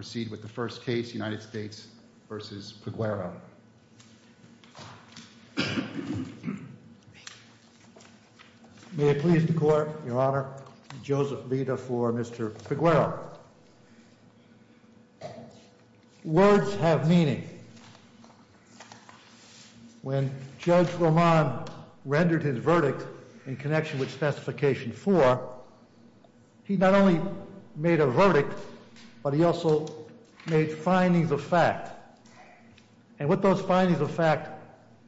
May it please the Court, Your Honor, Joseph Bida for Mr. Peguero. Words have meaning. When Judge Roman rendered his verdict in connection with Specification 4, he not only made a verdict, but he also made findings of fact. And what those findings of fact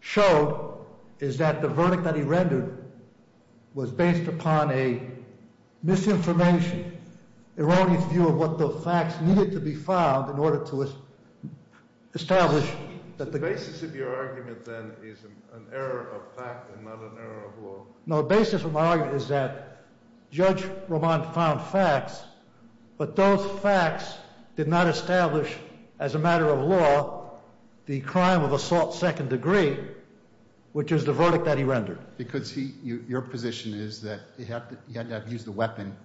showed is that the verdict that he rendered was based upon a misinformation, erroneous view of what the facts needed to be found in order to establish that the- The basis of your argument then is an error of fact and not an error of law. No, the basis of my argument is that Judge Roman found facts, but those facts did not establish as a matter of law the crime of assault second degree, which is the verdict that he rendered. Because he- your position is that he had to have used a weapon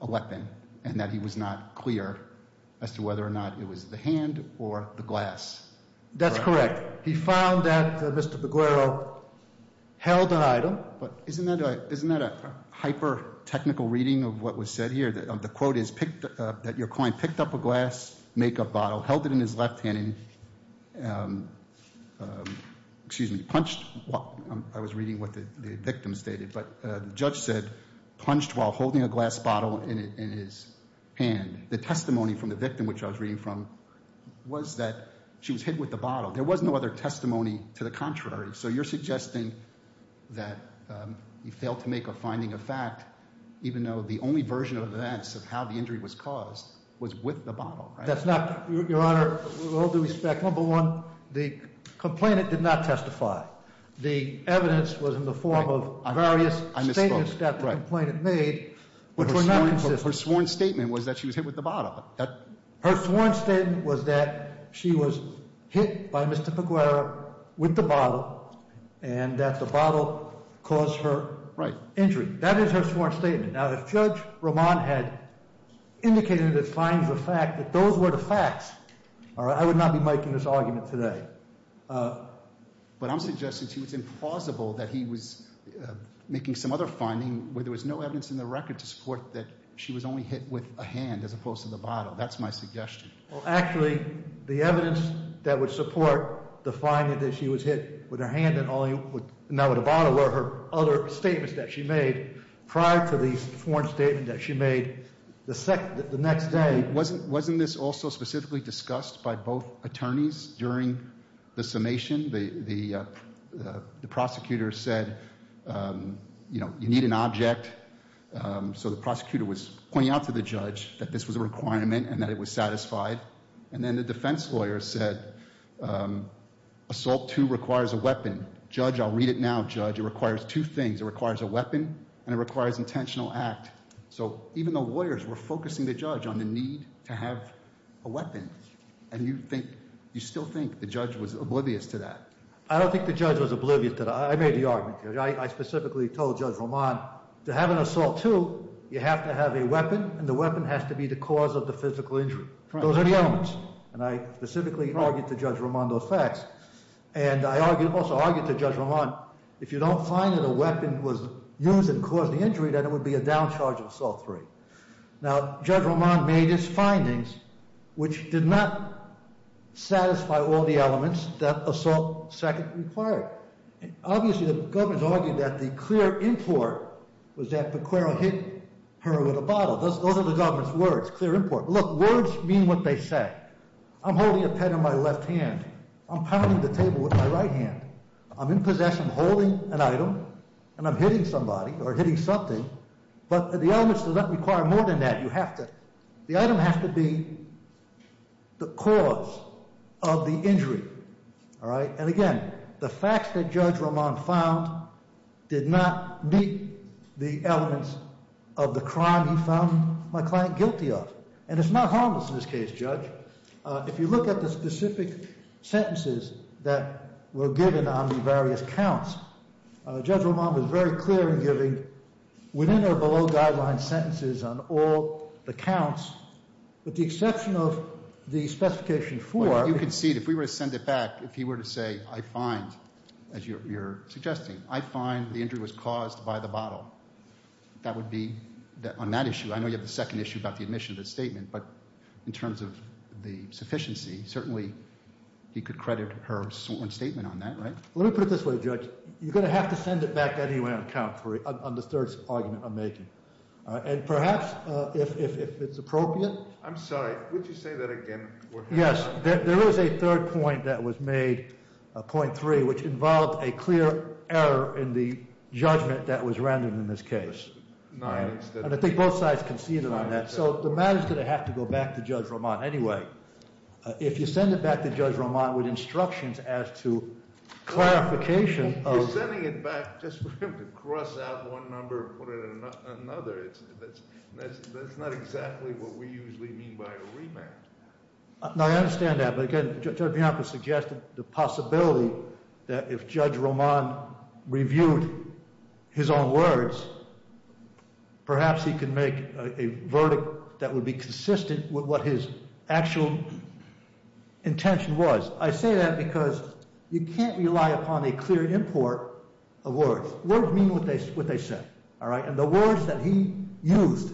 and that he was not clear as to whether or not it was the hand or the glass. That's correct. He found that Mr. Peguero held an item- Isn't that a hyper-technical reading of what was said here? The quote is that your client picked up a glass make-up bottle, held it in his left hand and punched- I was reading what the victim stated, but the judge said punched while holding a glass bottle in his hand. The testimony from the victim, which I was reading from, was that she was hit with the bottle. There was no other testimony to the contrary. So you're suggesting that he failed to make a finding of fact, even though the only version of events of how the injury was caused was with the bottle, right? That's not- Your Honor, with all due respect, number one, the complainant did not testify. The evidence was in the form of various statements that the complainant made, which were not consistent. Her sworn statement was that she was hit with the bottle. And that the bottle caused her injury. That is her sworn statement. Now, if Judge Roman had indicated that those were the facts, I would not be making this argument today. But I'm suggesting to you it's implausible that he was making some other finding where there was no evidence in the record to support that she was only hit with a hand as opposed to the bottle. That's my suggestion. Well, actually, the evidence that would support the finding that she was hit with her hand and not with a bottle were her other statements that she made prior to the sworn statement that she made the next day. Wasn't this also specifically discussed by both attorneys during the summation? The prosecutor said, you know, you need an object. So the prosecutor was pointing out to the judge that this was a requirement and that it was satisfied. And then the defense lawyer said, assault two requires a weapon. Judge, I'll read it now, judge. It requires two things. It requires a weapon and it requires intentional act. So even the lawyers were focusing the judge on the need to have a weapon. And you think, you still think the judge was oblivious to that? I don't think the judge was oblivious to that. I made the argument. I specifically told Judge Roman, to have an assault two, you have to have a weapon and the weapon has to be the cause of the physical injury. Those are the elements. And I specifically argued to Judge Roman those facts. And I also argued to Judge Roman, if you don't find that a weapon was used and caused the injury, then it would be a down charge of assault three. Now Judge Roman made his findings, which did not satisfy all the elements that assault second required. Obviously, the government's argued that the clear import was that Pecora hit her with a bottle. Those are the government's words. Clear import. Look, words mean what they say. I'm holding a pen in my left hand. I'm pounding the table with my right hand. I'm in possession, holding an item and I'm hitting somebody or hitting something. But the elements do not require more than that. All right. And again, the facts that Judge Roman found did not meet the elements of the crime he found my client guilty of. And it's not harmless in this case, Judge. If you look at the specific sentences that were given on the various counts, Judge Roman was very clear in giving within or below guideline sentences on all the counts, with the exception of the specification four. You concede, if we were to send it back, if he were to say, I find, as you're suggesting, I find the injury was caused by the bottle, that would be, on that issue, I know you have the second issue about the admission of the statement. But in terms of the sufficiency, certainly he could credit her sworn statement on that, right? Let me put it this way, Judge. You're going to have to send it back anyway on the third argument I'm making. And perhaps if it's appropriate. I'm sorry. Would you say that again? Yes. There is a third point that was made, point three, which involved a clear error in the judgment that was rendered in this case. And I think both sides conceded on that. So the matter's going to have to go back to Judge Roman anyway. If you send it back to Judge Roman with instructions as to clarification of You're sending it back just for him to cross out one number and put in another. That's not exactly what we usually mean by a remand. No, I understand that. But again, Judge Bianco suggested the possibility that if Judge Roman reviewed his own words, perhaps he could make a verdict that would be consistent with what his actual intention was. I say that because you can't rely upon a clear import of words. Words mean what they say. And the words that he used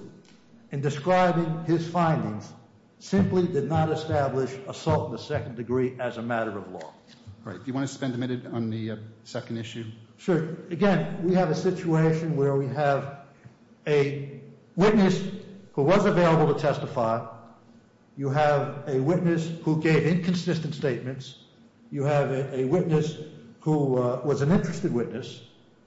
in describing his findings simply did not establish assault in the second degree as a matter of law. Do you want to spend a minute on the second issue? Sure. Again, we have a situation where we have a witness who was available to testify. You have a witness who gave inconsistent statements. You have a witness who was an interested witness.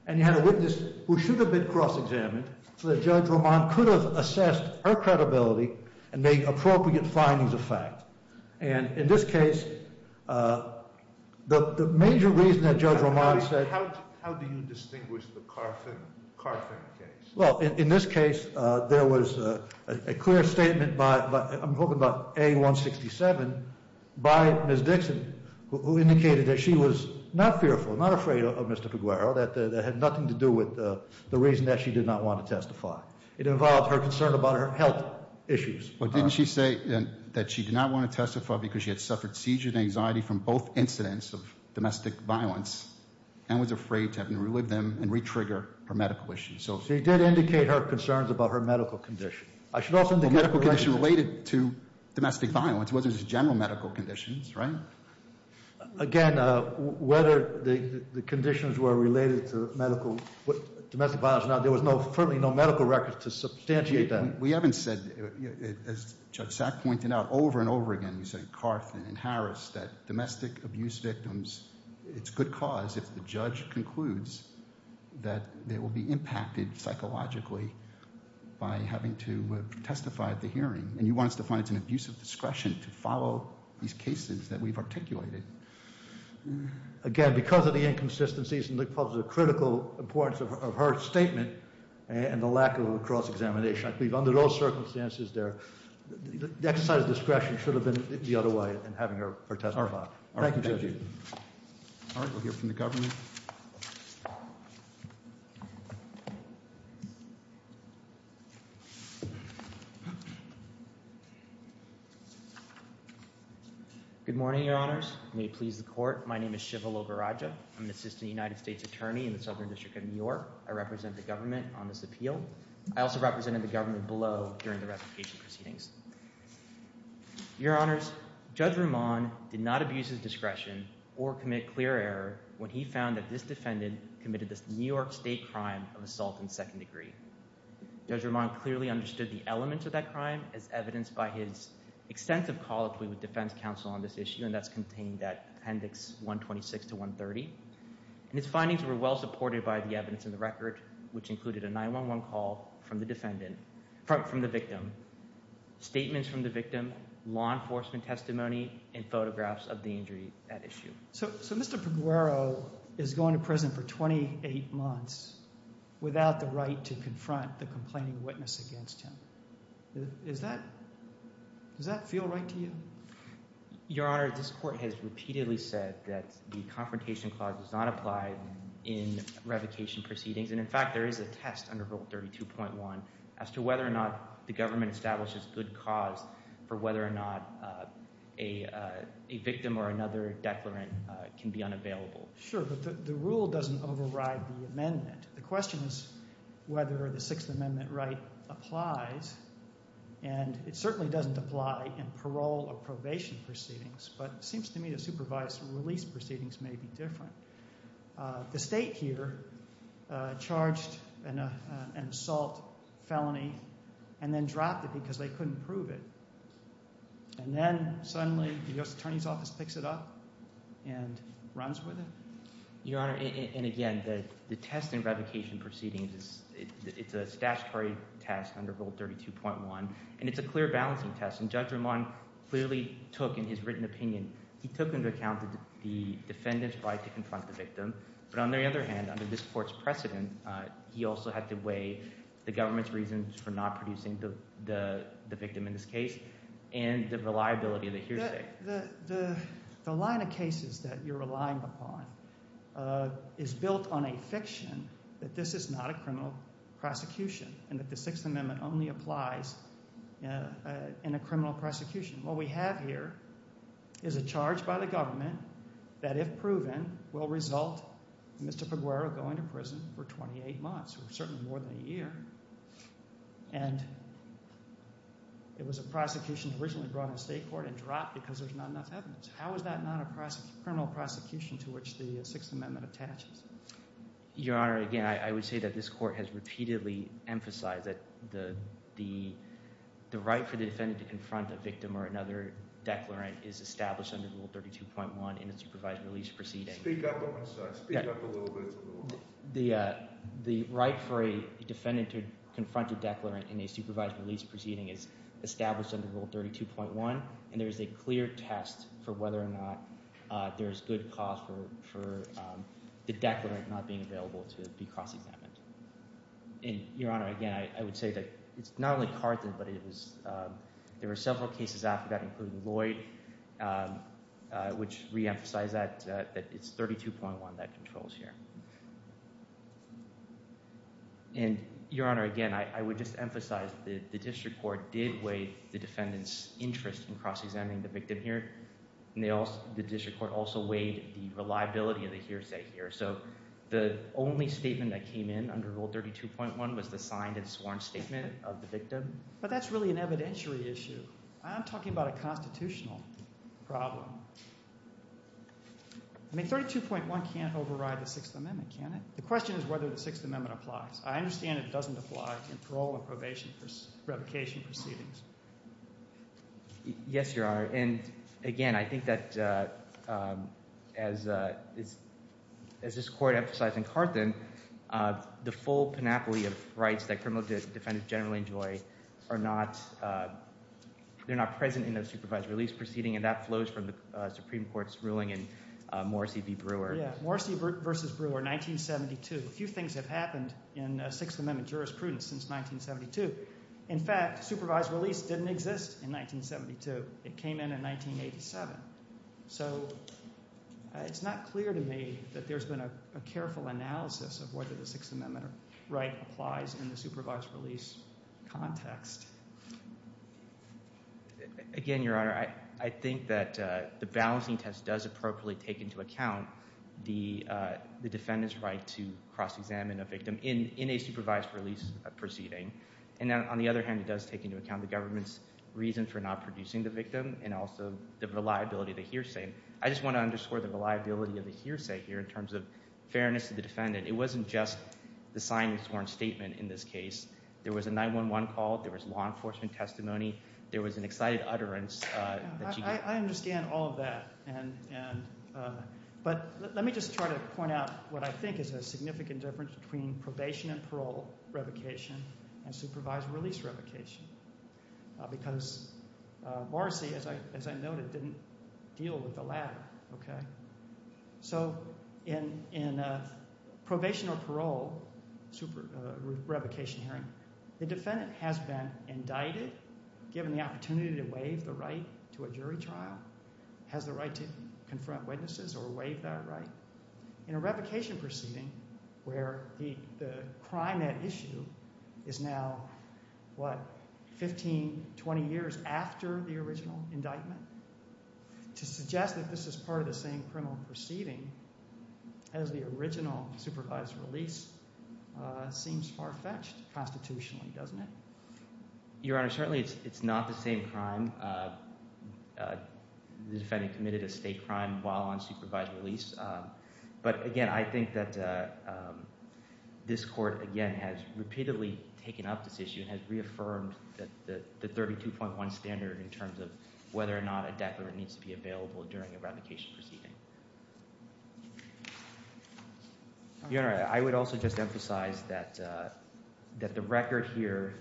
And you have a witness who should have been cross-examined so that Judge Roman could have assessed her credibility and made appropriate findings of fact. And in this case, the major reason that Judge Roman said How do you distinguish the Carfin case? Well, in this case, there was a clear statement by, I'm hoping by A167, by Ms. Dixon who indicated that she was not fearful, not afraid of Mr. Piguero. That had nothing to do with the reason that she did not want to testify. It involved her concern about her health issues. But didn't she say that she did not want to testify because she had suffered seizure and anxiety from both incidents of domestic violence and was afraid to have to relive them and re-trigger her medical issues? She did indicate her concerns about her medical condition. A medical condition related to domestic violence. It wasn't just general medical conditions, right? Again, whether the conditions were related to medical, domestic violence or not, there was no, certainly no medical record to substantiate that. We haven't said, as Judge Sack pointed out over and over again, you said Carfin and Harris, that domestic abuse victims, it's good cause if the judge concludes that they will be impacted psychologically by having to testify at the hearing. And you want us to find it's an abuse of discretion to follow these cases that we've articulated. Again, because of the inconsistencies and the critical importance of her statement and the lack of a cross-examination, I believe under those circumstances, the exercise of discretion should have been the other way in having her testify. Thank you, Judge. All right, we'll hear from the government. Good morning, Your Honors. May it please the court. My name is Shiva Logarajah. I'm an assistant United States attorney in the Southern District of New York. I represent the government on this appeal. I also represented the government below during the revocation proceedings. Your Honors, Judge Roman did not abuse his discretion or commit clear error when he found that this defendant committed this New York State crime of assault in second degree. Judge Roman clearly understood the elements of that crime as evidenced by his extensive colloquy with defense counsel on this issue, and that's contained at Appendix 126 to 130. And his findings were well supported by the evidence in the record, which included a 911 call from the victim, statements from the victim, law enforcement testimony, and photographs of the injury at issue. So Mr. Paguero is going to prison for 28 months without the right to confront the complaining witness against him. Does that feel right to you? Your Honor, this court has repeatedly said that the Confrontation Clause does not apply in revocation proceedings. And in fact, there is a test under Rule 32.1 as to whether or not the government establishes good cause for whether or not a victim or another declarant can be unavailable. Sure, but the rule doesn't override the amendment. The question is whether the Sixth Amendment right applies. And it certainly doesn't apply in parole or probation proceedings, but it seems to me the supervised release proceedings may be different. The state here charged an assault felony and then dropped it because they couldn't prove it. And then suddenly the U.S. Attorney's Office picks it up and runs with it? Your Honor, and again, the test in revocation proceedings is a statutory test under Rule 32.1. And it's a clear balancing test. And Judge Ramon clearly took in his written opinion, he took into account the defendant's right to confront the victim. But on the other hand, under this court's precedent, he also had to weigh the government's reasons for not producing the victim in this case and the reliability of the hearsay. The line of cases that you're relying upon is built on a fiction that this is not a criminal prosecution and that the Sixth Amendment only applies in a criminal prosecution. What we have here is a charge by the government that if proven will result in Mr. Peguero going to prison for 28 months or certainly more than a year. And it was a prosecution originally brought on the state court and dropped because there's not enough evidence. How is that not a criminal prosecution to which the Sixth Amendment attaches? Your Honor, again, I would say that this court has repeatedly emphasized that the right for the defendant to confront a victim or another declarant is established under Rule 32.1 in a supervised release proceeding. Speak up on my side. Speak up a little bit. The right for a defendant to confront a declarant in a supervised release proceeding is established under Rule 32.1. And there is a clear test for whether or not there is good cause for the declarant not being available to be cross-examined. And, Your Honor, again, I would say that it's not only Carleton, but there were several cases after that, including Lloyd, which re-emphasized that it's 32.1 that controls here. And, Your Honor, again, I would just say that the district court did weigh the defendant's interest in cross-examining the victim here. And the district court also weighed the reliability of the hearsay here. So the only statement that came in under Rule 32.1 was the signed and sworn statement of the victim. But that's really an evidentiary issue. I'm talking about a constitutional problem. I mean, 32.1 can't override the Sixth Amendment, can it? The question is whether the Sixth Amendment applies. I understand it doesn't apply in parole or probation revocation proceedings. Yes, Your Honor. And, again, I think that, as this court emphasized in Carleton, the full panoply of rights that criminal defendants generally enjoy are not present in the supervised release proceeding. And that flows from the Supreme Court's ruling in Morrissey v. Brewer. Yeah, Morrissey v. Brewer, 1972. A few things have happened in Sixth Amendment jurisprudence since 1972. In fact, supervised release didn't exist in 1972. It came in in 1987. So it's not clear to me that there's been a careful analysis of whether the Sixth Amendment right applies in the supervised release context. Again, Your Honor, I think that the balancing test does appropriately take into account the defendant's right to cross-examine a victim in a supervised release proceeding. And on the other hand, it does take into account the government's reason for not producing the victim and also the reliability of the hearsay. I just want to underscore the reliability of the hearsay here in terms of fairness to the defendant. It wasn't just the sign-and-sworn statement in this case. There was a 911 call. There was law enforcement testimony. There was an excited utterance that she gave. I understand all of that. But let me just try to point out what I think is a significant difference between probation and parole revocation and supervised release revocation. Because Morrissey, as I noted, didn't deal with the latter. So in a probation or parole revocation hearing, the defendant has been indicted, given the opportunity to waive the right to a jury trial, has the right to confront witnesses or waive that right. In a revocation proceeding where the crime at issue is now, what, 15, 20 years after the original indictment, to suggest that this is part of the same criminal proceeding as the original supervised release seems far-fetched constitutionally, doesn't it? Your Honor, certainly it's not the same crime. The defendant committed a state crime while on supervised release. But again, I think that this court, again, has repeatedly taken up this issue and has reaffirmed the 32.1 standard in terms of whether or not a declarant needs to be available during a revocation proceeding. Your Honor, I would also just emphasize that the record here,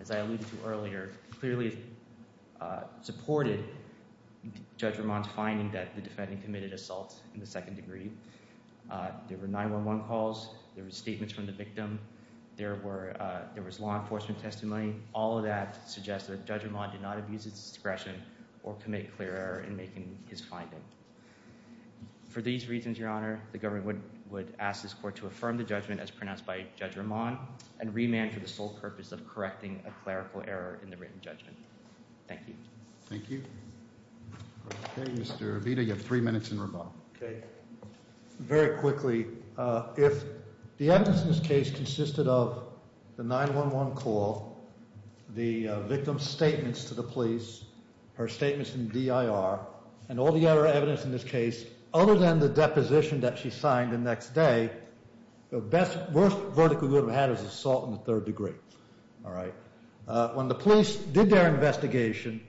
as I alluded to earlier, clearly supported Judge Ramon's finding that the defendant committed assault in the second degree. There were 911 calls. There were statements from the victim. There was law enforcement testimony. All of that suggests that Judge Ramon did not abuse his discretion or commit clear error in making his finding. For these reasons, Your Honor, the government would ask this court to affirm the judgment as pronounced by Judge Ramon and remand for the sole purpose of correcting a clerical error in the written judgment. Thank you. Thank you. Okay, Mr. Avita, you have three minutes in rebuttal. Okay. Very quickly, if the evidence in this case consisted of the 911 call, the victim's statements to the police, her statements in DIR, and all the other evidence in this case, other than the deposition that she signed the next day, the best, worst verdict we would have had is assault in the third degree, all right? When the police did their investigation,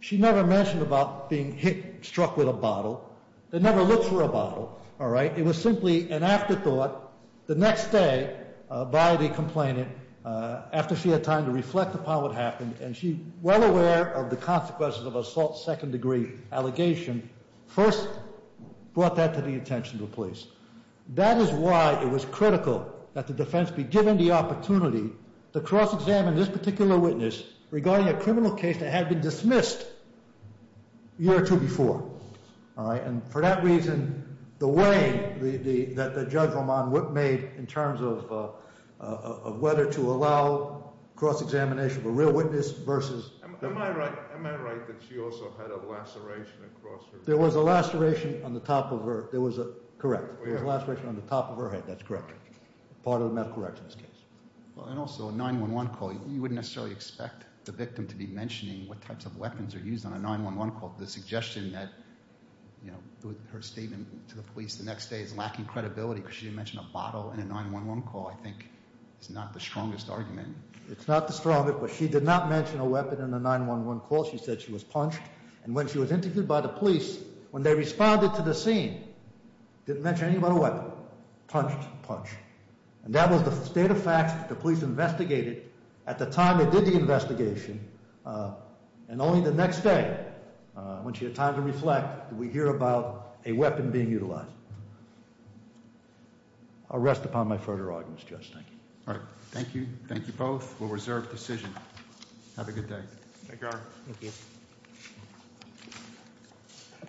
she never mentioned about being hit, struck with a bottle. They never looked for a bottle, all right? It was simply an afterthought the next day by the complainant after she had time to reflect upon what happened, and she, well aware of the consequences of assault second degree allegation, first brought that to the attention of the police. That is why it was critical that the defense be given the opportunity to cross-examine this particular witness regarding a criminal case that had been dismissed a year or two before, all right? And for that reason, the way that Judge Roman made in terms of whether to allow cross-examination of a real witness versus... Am I right that she also had a laceration across her... There was a laceration on the top of her... There was a... Correct. There was a laceration on the top of her head. That's correct. Part of the medical records case. And also a 911 call. You wouldn't necessarily expect the victim to be mentioning what types of weapons are used on a 911 call. The suggestion that, you know, her statement to the police the next day is lacking credibility because she didn't mention a bottle in a 911 call, I think, is not the strongest argument. It's not the strongest, but she did not mention a weapon in a 911 call. She said she was punched, and when she was interviewed by the police, when they responded to the scene, didn't mention anything about a weapon. Punched, punched. And that was the state of facts that the police investigated at the time they did the investigation, and only the next day, when she had time to reflect, did we hear about a weapon being utilized. I'll rest upon my further arguments, Judge. Thank you. All right. Thank you. Thank you both. We'll reserve decision. Have a good day. Thank you, Your Honor. Thank you.